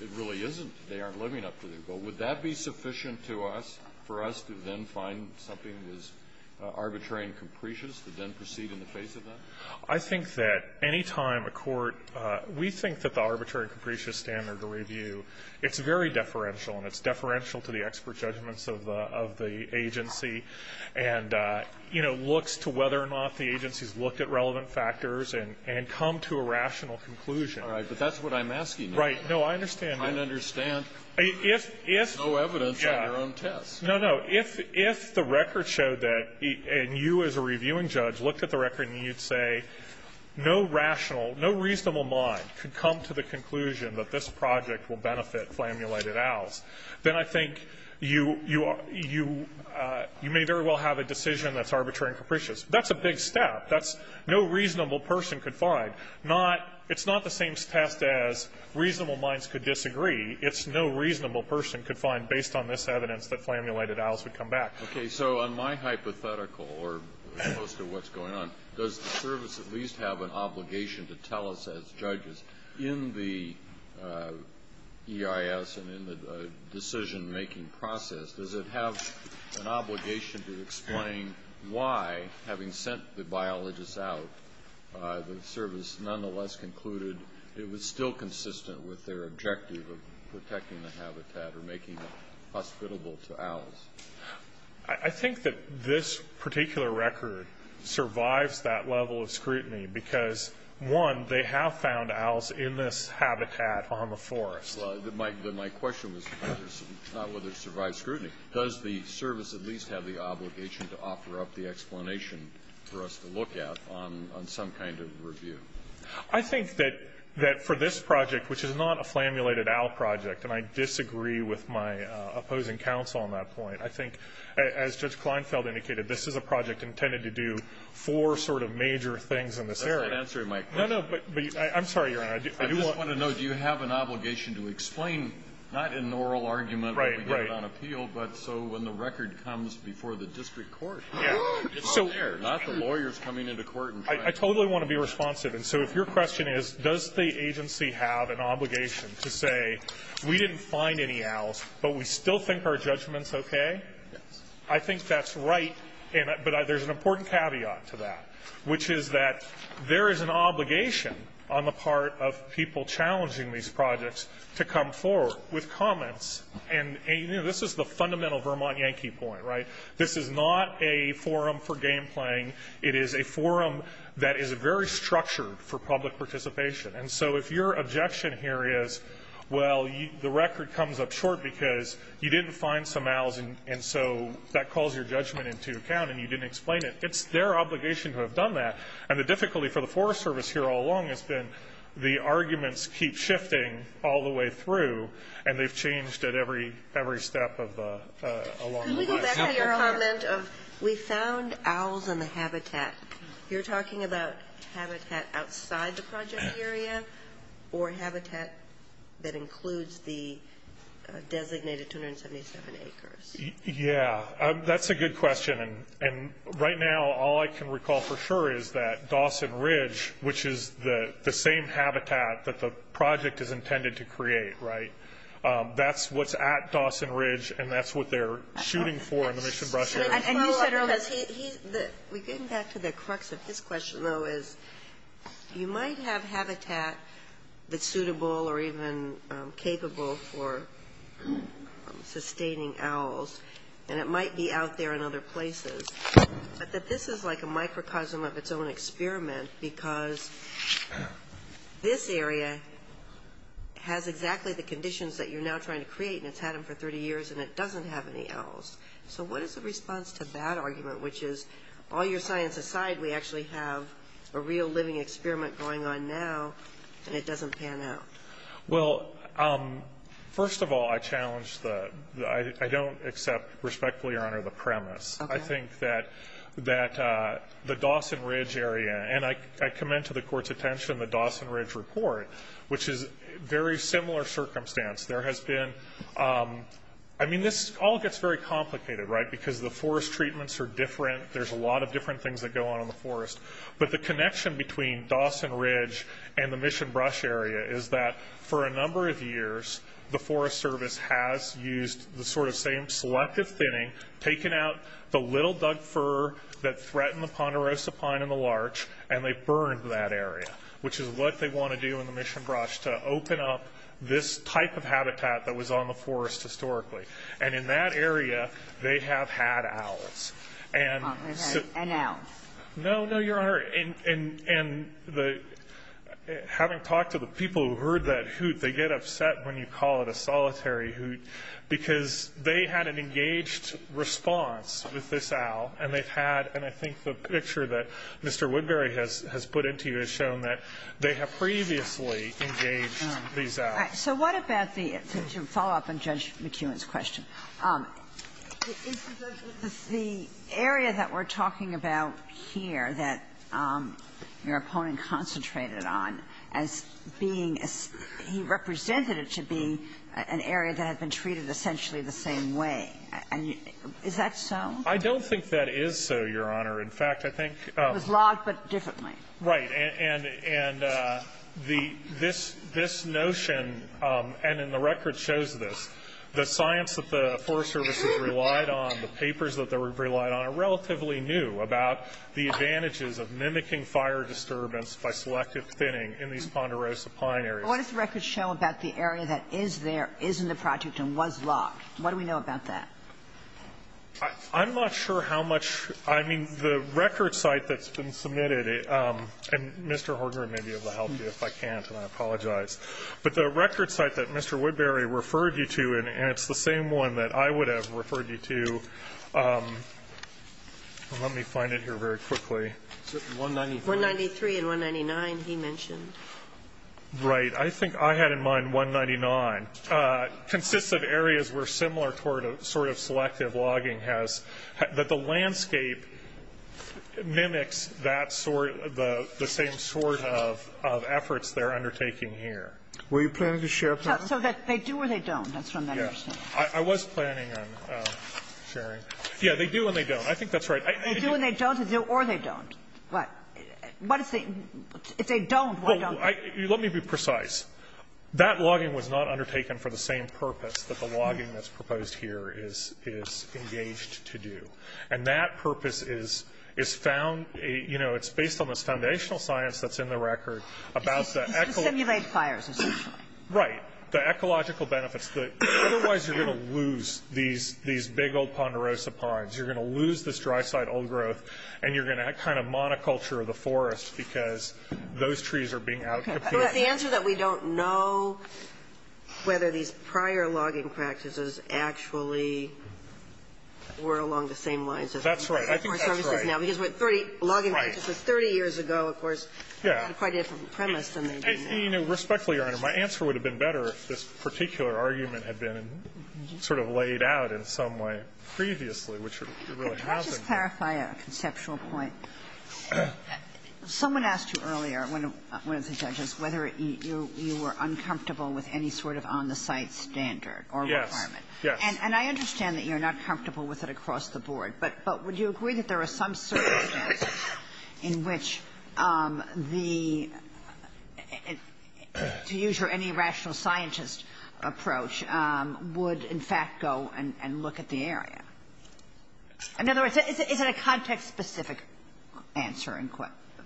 it really isn't. They aren't living up to their goal. Would that be sufficient to us, for us to then find something that is arbitrary and capricious to then proceed in the face of that? I think that any time a court – we think that the arbitrary and capricious standard of review, it's very deferential, and it's deferential to the expert judgments of the agency and, you know, looks to whether or not the agency's looked at relevant factors and come to a rational conclusion. All right. But that's what I'm asking. Right. No, I understand that. I understand there's no evidence on your own tests. No, no. If the record showed that, and you as a reviewing judge looked at the record and you'd say, no rational, no reasonable mind could come to the conclusion that this project will benefit flammulated owls, then I think you may very well have a decision that's arbitrary and capricious. That's a big step. That's no reasonable person could find. It's not the same test as reasonable minds could disagree. It's no reasonable person could find, based on this evidence, that flammulated owls would come back. Okay. So on my hypothetical, or most of what's going on, does the service at least have an obligation to tell us as judges in the EIS and in the decision-making process, does it have an obligation to explain why, having sent the biologists out, the service nonetheless concluded it was still consistent with their objective of protecting the habitat or making it hospitable to owls? I think that this particular record survives that level of scrutiny because, one, they have found owls in this habitat on the forest. My question was not whether it survived scrutiny. Does the service at least have the obligation to offer up the explanation for us to look at on some kind of review? I think that for this project, which is not a flammulated owl project, and I disagree with my opposing counsel on that point, I think, as Judge Kleinfeld indicated, this is a project intended to do four sort of major things in this area. That's not answering my question. No, no. I'm sorry, Your Honor. I just want to know, do you have an obligation to explain, not in an oral argument when we get it on appeal, but so when the record comes before the district court, it's there, not the lawyers coming into court and trying to ---- I totally want to be responsive. And so if your question is, does the agency have an obligation to say, we didn't find any owls but we still think our judgment's okay, I think that's right. But there's an important caveat to that, which is that there is an obligation on the part of people challenging these projects to come forward with comments. And, you know, this is the fundamental Vermont Yankee point, right? This is not a forum for game playing. It is a forum that is very structured for public participation. And so if your objection here is, well, the record comes up short because you didn't find some owls and so that calls your judgment into account and you didn't explain it, it's their obligation to have done that. And the difficulty for the Forest Service here all along has been the arguments keep shifting all the way through, and they've changed at every step along the way. Can we go back to your comment of we found owls in the habitat? You're talking about habitat outside the project area or habitat that includes the designated 277 acres? Yeah, that's a good question. And right now all I can recall for sure is that Dawson Ridge, which is the same habitat that the project is intended to create, right, that's what's at Dawson Ridge and that's what they're shooting for in the Michigan brush area. And you said earlier, we're getting back to the crux of his question, though, is you might have habitat that's suitable or even capable for sustaining owls, and it might be out there in other places, but that this is like a microcosm of its own experiment because this area has exactly the conditions that you're now trying to create, and it's had them for 30 years, and it doesn't have any owls. So what is the response to that argument, which is all your science aside, we actually have a real living experiment going on now, and it doesn't pan out? Well, first of all, I challenge the – I don't accept respectfully, Your Honor, the premise. I think that the Dawson Ridge area – and I commend to the Court's attention the Dawson Ridge report, which is a very similar circumstance. There has been – I mean, this all gets very complicated, right, because the forest treatments are different. There's a lot of different things that go on in the forest. But the connection between Dawson Ridge and the Michigan brush area is that for a number of years, the Forest Service has used the sort of same selective thinning, taken out the little duck fur that threatened the ponderosa pine and the larch, and they've burned that area, which is what they want to do in the Michigan brush, to open up this type of habitat that was on the forest historically. And in that area, they have had owls. And so – And owls. No, no, Your Honor. And having talked to the people who heard that hoot, they get upset when you call it a solitary hoot because they had an engaged response with this owl, and they've had – and I think the picture that Mr. Woodbury has put into you has shown that they have previously engaged these owls. So what about the – to follow up on Judge McEwen's question. Is the area that we're talking about here that your opponent concentrated on as being – he represented it to be an area that had been treated essentially the same way. And is that so? I don't think that is so, Your Honor. In fact, I think – It was logged, but differently. Right. And this notion – and the record shows this. The science that the Forest Service has relied on, the papers that they relied on, are relatively new about the advantages of mimicking fire disturbance by selective thinning in these Ponderosa pine areas. What does the record show about the area that is there, is in the project, and was logged? What do we know about that? I'm not sure how much – I mean, the record site that's been submitted – and Mr. Hortner may be able to help you if I can't, and I apologize. But the record site that Mr. Woodbury referred you to, and it's the same one that I would have referred you to – let me find it here very quickly. 193. 193 and 199 he mentioned. Right. I think I had in mind 199. Consists of areas where similar sort of selective logging has – that the same sort of efforts they're undertaking here. Were you planning to share, please? So that they do or they don't. That's from that understanding. Yes. I was planning on sharing. Yes. They do and they don't. I think that's right. They do and they don't or they don't. What? What is the – if they don't, why don't they? Let me be precise. That logging was not undertaken for the same purpose that the logging that's proposed here is engaged to do. And that purpose is found – you know, it's based on this foundational science that's in the record about the – To simulate fires, essentially. Right. The ecological benefits. Otherwise you're going to lose these big old Ponderosa pines. You're going to lose this dry site old growth and you're going to kind of monoculture the forest because those trees are being out- But the answer that we don't know whether these prior logging practices actually were along the same lines as the Forest Service is now. That's right. I think that's right. Because what 30 – logging practices 30 years ago, of course, had quite a different premise than they do now. Respectfully, Your Honor, my answer would have been better if this particular argument had been sort of laid out in some way previously, which it really hasn't. Let me just clarify a conceptual point. Someone asked you earlier, one of the judges, whether you were uncomfortable with any sort of on-the-site standard or requirement. Yes. And I understand that you're not comfortable with it across the board, but would you agree that there are some circumstances in which the – to use your any rational scientist approach – would, in fact, go and look at the area? In other words, is it a context-specific answer and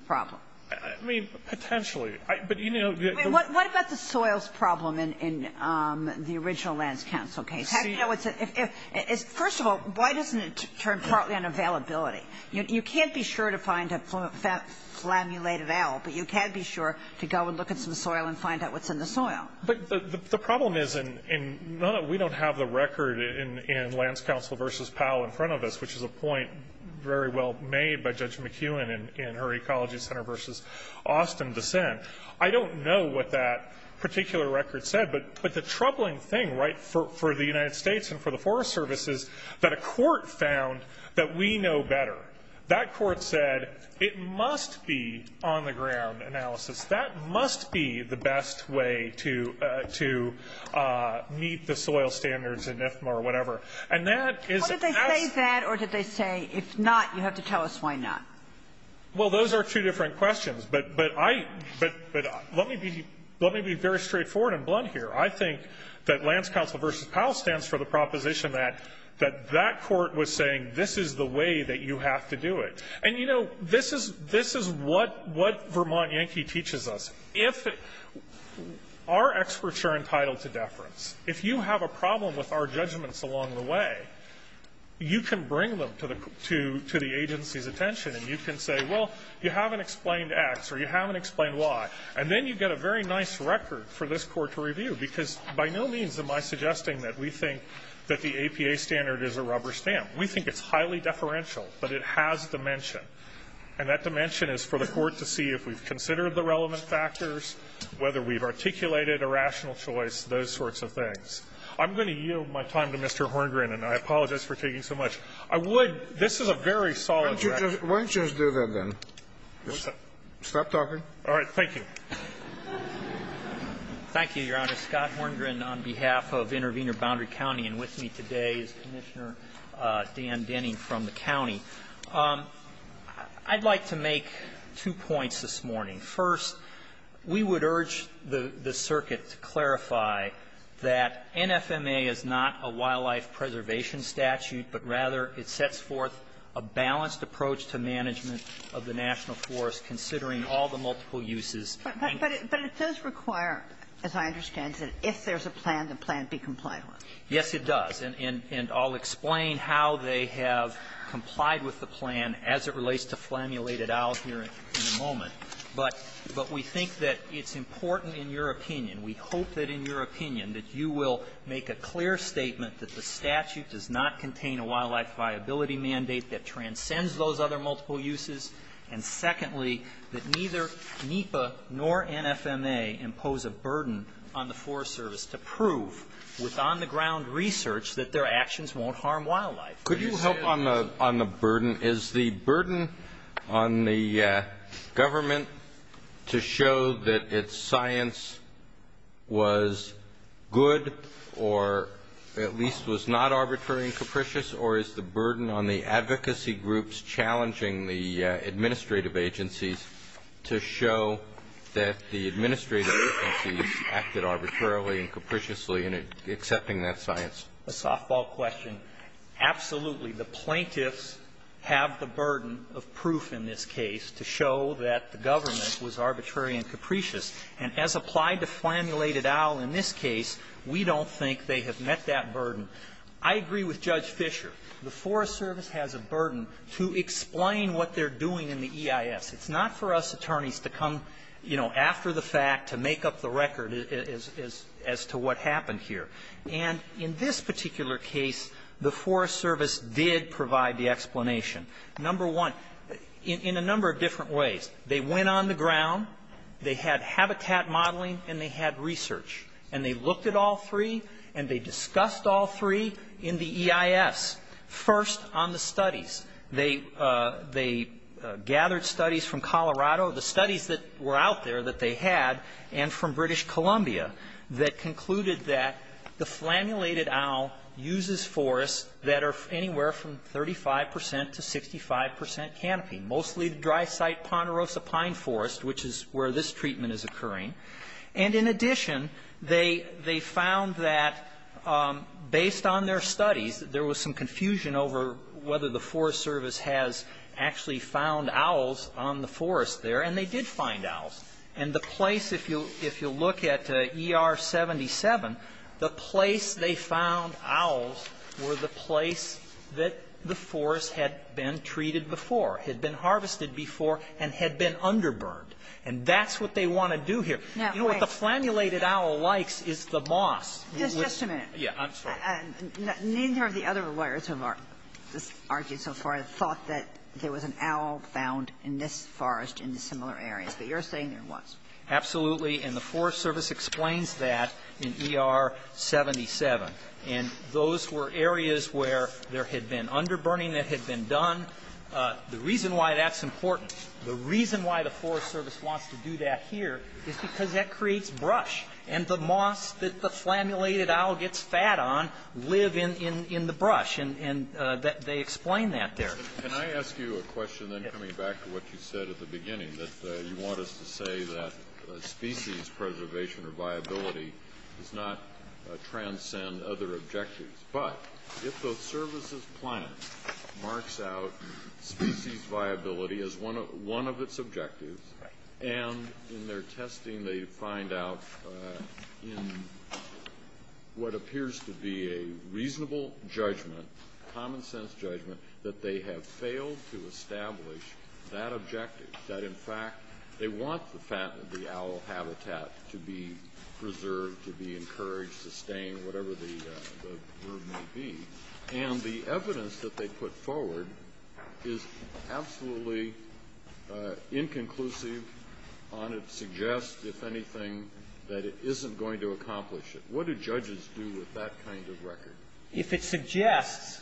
problem? I mean, potentially. But, you know, the- What about the soils problem in the original Lands Council case? First of all, why doesn't it turn partly on availability? You can't be sure to find a flammulated ale, but you can be sure to go and look at some soil and find out what's in the soil. But the problem is in none of – we don't have the record in Lands Council versus Powell in front of us, which is a point very well made by Judge McEwen in her Ecology Center versus Austin dissent. I don't know what that particular record said. But the troubling thing, right, for the United States and for the Forest Service is that a court found that we know better. That court said it must be on-the-ground analysis. That must be the best way to meet the soil standards in IFMA or whatever. And that is- What did they say is that, or did they say, if not, you have to tell us why not? Well, those are two different questions. But let me be very straightforward and blunt here. I think that Lands Council versus Powell stands for the proposition that that court was saying this is the way that you have to do it. And, you know, this is what Vermont Yankee teaches us. If our experts are entitled to deference, if you have a problem with our judgments along the way, you can bring them to the agency's attention and you can say, well, you haven't explained X or you haven't explained Y. And then you get a very nice record for this court to review, because by no means am I suggesting that we think that the APA standard is a rubber stamp. We think it's highly deferential, but it has dimension. And that dimension is for the court to see if we've considered the relevant factors, whether we've articulated a rational choice, those sorts of things. I'm going to yield my time to Mr. Horngren, and I apologize for taking so much. I would --. This is a very solid record. Why don't you just do that, then? Stop talking. All right. Thank you. Thank you, Your Honor. Scott Horngren on behalf of Intervenor Boundary County, and with me today is Commissioner Dan Denning from the county. I'd like to make two points this morning. First, we would urge the circuit to clarify that NFMA is not a wildlife preservation statute, but rather it sets forth a balanced approach to management of the national forest, considering all the multiple uses. But it does require, as I understand it, if there's a plan, the plan be complied with. Yes, it does. And I'll explain how they have complied with the plan as it relates to Flammulet et al. here in a moment. But we think that it's important in your opinion, we hope that in your opinion, that you will make a clear statement that the statute does not contain a wildlife viability mandate that transcends those other multiple uses. And secondly, that neither NEPA nor NFMA impose a burden on the Forest Service to prove with on-the-ground research that their actions won't harm wildlife. Could you help on the burden? Is the burden on the government to show that its science was good or at least was not arbitrary and capricious, or is the burden on the advocacy groups challenging the administrative agencies to show that the administrative agencies acted arbitrarily and capriciously in accepting that science? A softball question. Absolutely. The plaintiffs have the burden of proof in this case to show that the government was arbitrary and capricious. And as applied to Flammulet et al. in this case, we don't think they have met that burden. I agree with Judge Fisher. The Forest Service has a burden to explain what they're doing in the EIS. It's not for us attorneys to come, you know, after the fact to make up the record as to what happened here. And in this particular case, the Forest Service did provide the explanation. Number one, in a number of different ways. They went on the ground, they had habitat modeling, and they had research. And they looked at all three, and they discussed all three in the EIS. First, on the studies. They gathered studies from Colorado, the studies that were out there that they had, and from British Columbia that concluded that the Flammulet et al. uses forests that are anywhere from 35 percent to 65 percent canopy, mostly the dry site Ponderosa Pine Forest, which is where this treatment is occurring. And in addition, they found that based on their studies, there was some confusion over whether the Forest Service has actually found owls on the forest there. And they did find owls. And the place, if you'll look at ER-77, the place they found owls were the place that the forest had been treated before, had been harvested before, and had been under-burned. And that's what they want to do here. You know, what the Flammulet et al. likes is the moss. Kagan. Just a minute. Yeah. I'm sorry. Neither of the other lawyers who have argued so far thought that there was an owl found in this forest in similar areas. But you're saying there was. Absolutely. And the Forest Service explains that in ER-77. And those were areas where there had been under-burning that had been done. The reason why that's important, the reason why the Forest Service wants to do that here is because that creates brush. And the moss that the Flammulet et al. gets fat on live in the brush. And they explain that there. Can I ask you a question then coming back to what you said at the beginning, that you want us to say that species preservation or viability does not transcend other objectives. But if the services plan marks out species viability as one of its objectives, and in their testing they find out in what appears to be a reasonable judgment, common sense judgment, that they have failed to establish that objective, that in fact they want the owl habitat to be preserved, to be encouraged, sustained, whatever the word may be. And the evidence that they put forward is absolutely inconclusive on its suggest, if anything, that it isn't going to accomplish it. What do judges do with that kind of record? If it suggests,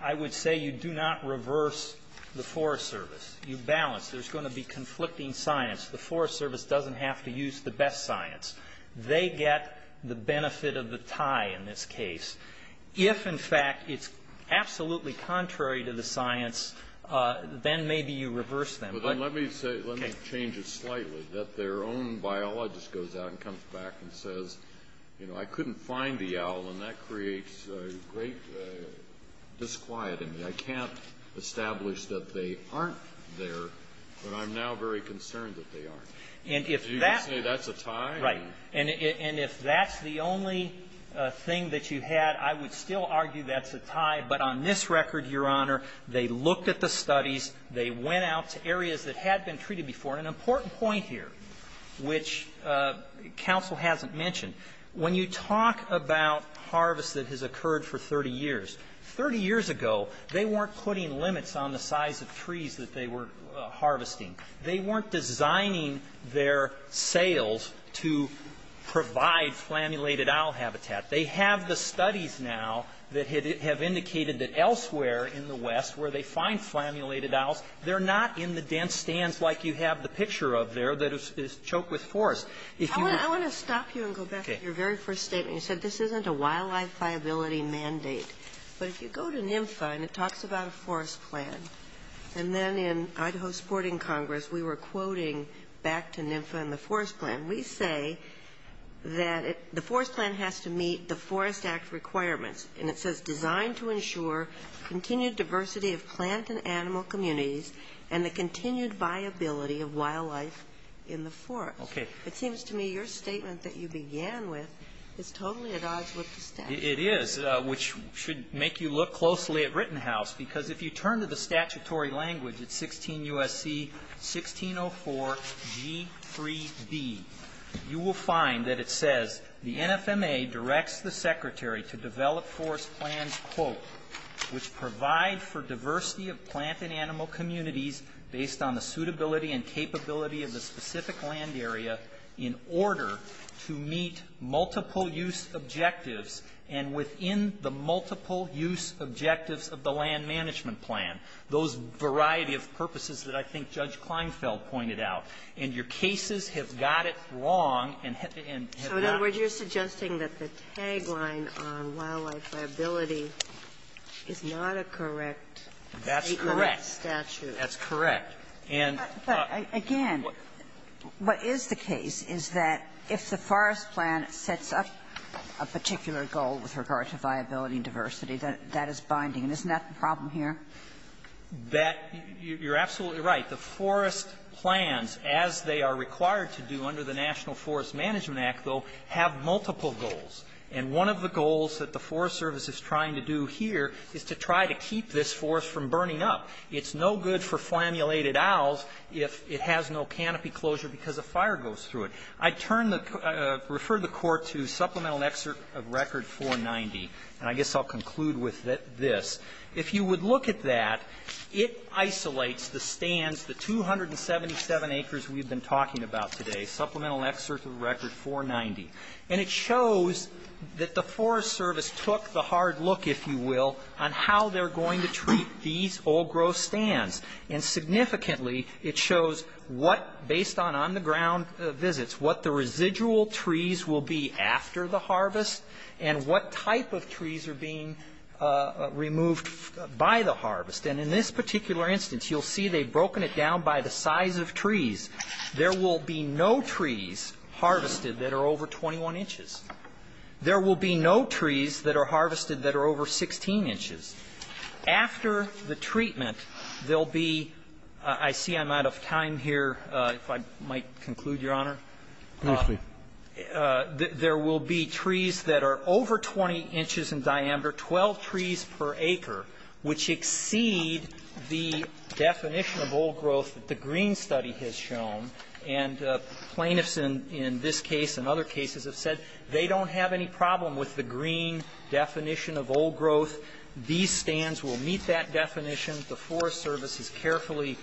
I would say you do not reverse the Forest Service. You balance. There's going to be conflicting science. The Forest Service doesn't have to use the best science. They get the benefit of the tie in this case. If, in fact, it's absolutely contrary to the science, then maybe you reverse them. But let me say, let me change it slightly. I couldn't find the owl, and that creates great disquieting. I can't establish that they aren't there, but I'm now very concerned that they aren't. And if that's the only thing that you had, I would still argue that's a tie. But on this record, Your Honor, they looked at the studies. They went out to areas that had been treated before. An important point here, which counsel hasn't mentioned. When you talk about harvest that has occurred for 30 years, 30 years ago they weren't putting limits on the size of trees that they were harvesting. They weren't designing their sales to provide flammulated owl habitat. They have the studies now that have indicated that elsewhere in the West where they find flammulated owls, they're not in the dense stands like you have the picture of there that is choked with forest. If you were to go back to your very first statement, you said this isn't a wildlife liability mandate. But if you go to NMFA and it talks about a forest plan, and then in Idaho Sporting Congress we were quoting back to NMFA and the forest plan, we say that the forest plan has to meet the Forest Act requirements. And it says designed to ensure continued diversity of plant and animal communities and the continued viability of wildlife in the forest. It seems to me your statement that you began with is totally at odds with the statute. It is, which should make you look closely at Rittenhouse, because if you turn to the statutory language, it's 16 U.S.C. 1604 G3B. You will find that it says the NFMA directs the secretary to develop forest plans, quote, which provide for diversity of plant and animal communities based on the suitability and capability of the specific land area in order to meet multiple use objectives and within the multiple use objectives of the land management plan. Those variety of purposes that I think Judge Kleinfeld pointed out. And your cases have got it wrong and have not. Ginsburg. So in other words, you're suggesting that the tagline on wildlife viability is not a correct State law statute? That's correct. That's correct. And the other one is that if the forest plan sets up a particular goal with regard to viability and diversity, that is binding. And isn't that the problem here? That you're absolutely right. The forest plans, as they are required to do under the National Forest Management Act, though, have multiple goals. And one of the goals that the Forest Service is trying to do here is to try to keep this forest from burning up. It's no good for flammulated owls if it has no canopy closure because a fire goes through it. I turn the ---- refer the Court to Supplemental Excerpt of Record 490. And I guess I'll conclude with this. If you would look at that, it isolates the stands, the 277 acres we've been talking about today, Supplemental Excerpt of Record 490. And it shows that the Forest Service took the hard look, if you will, on how they're going to treat these old-growth stands. And significantly, it shows what, based on on-the-ground visits, what the residual trees are being removed by the harvest. And in this particular instance, you'll see they've broken it down by the size of trees. There will be no trees harvested that are over 21 inches. There will be no trees that are harvested that are over 16 inches. After the treatment, there'll be ---- I see I'm out of time here, if I might conclude, Your Honor. Please do. There will be trees that are over 20 inches in diameter, 12 trees per acre, which exceed the definition of old-growth that the Green Study has shown. And plaintiffs in this case and other cases have said they don't have any problem with the Green definition of old-growth. These stands will meet that definition. The Forest Service has carefully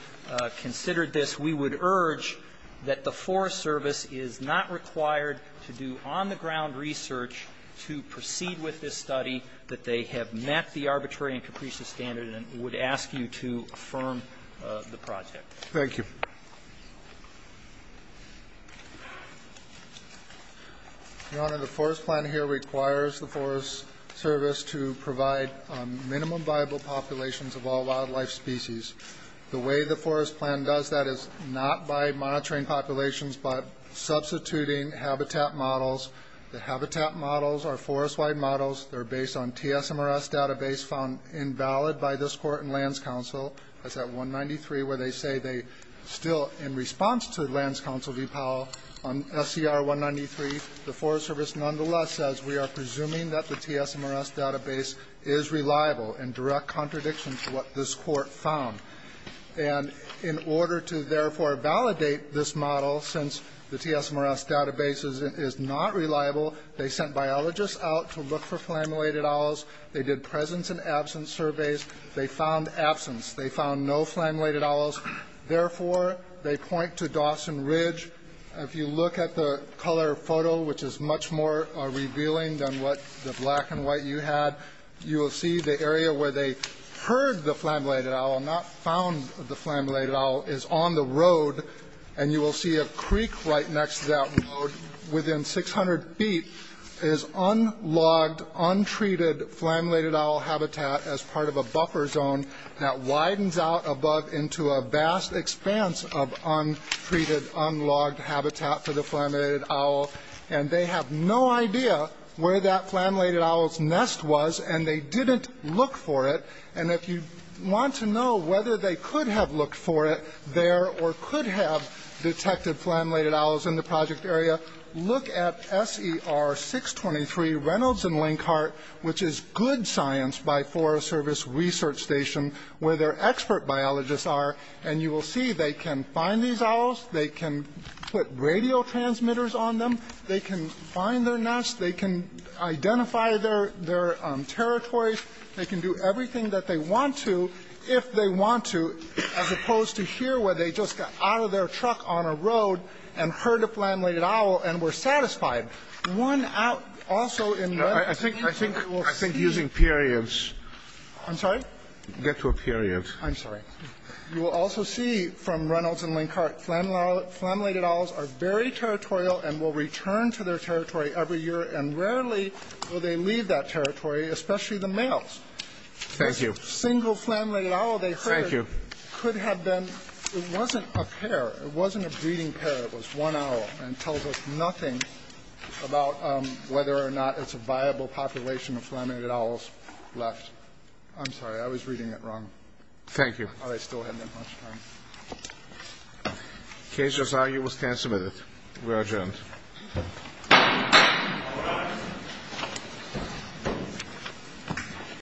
considered this. We would urge that the Forest Service is not required to do on-the-ground research to proceed with this study, that they have met the arbitrary and capricious standard, and would ask you to affirm the project. Thank you. Your Honor, the Forest Plan here requires the Forest Service to provide minimum viable populations of all wildlife species. The way the Forest Plan does that is not by monitoring populations, but substituting habitat models. The habitat models are forest-wide models. They're based on TSMRS database found invalid by this Court and Lands Council. That's at 193, where they say they still, in response to Lands Council v. Powell on SCR 193, the Forest Service nonetheless says we are presuming that the TSMRS database is reliable in direct contradiction to what this Court found. And in order to, therefore, validate this model, since the TSMRS database is not reliable, they sent biologists out to look for flammulated owls. They did presence and absence surveys. They found absence. They found no flammulated owls. Therefore, they point to Dawson Ridge. If you look at the color photo, which is much more revealing than what the black and white you had, you will see the area where they heard the flammulated owl, not found the flammulated owl, is on the road. And you will see a creek right next to that road. Within 600 feet is unlogged, untreated flammulated owl habitat as part of a buffer zone that widens out above into a vast expanse of untreated, unlogged habitat for the flammulated owl. And they have no idea where that flammulated owl's nest was, and they didn't look for it. And if you want to know whether they could have looked for it there or could have detected flammulated owls in the project area, look at SER 623 Reynolds and Linkhart, which is good science by Forest Service Research Station, where their expert biologists are. They can put radio transmitters on them. They can find their nest. They can identify their territories. They can do everything that they want to, if they want to, as opposed to here, where they just got out of their truck on a road and heard a flammulated owl and were satisfied. One out also in that area. I think using periods. I'm sorry? Get to a period. I'm sorry. You will also see from Reynolds and Linkhart, flammulated owls are very territorial and will return to their territory every year, and rarely will they leave that territory, especially the males. Thank you. The single flammulated owl they heard could have been ñ it wasn't a pair. It wasn't a breeding pair. It was one owl. And it tells us nothing about whether or not it's a viable population of flammulated owls left. I'm sorry. I was reading it wrong. Thank you. I still have that much time. Case just argued. We'll stand submitted. We are adjourned.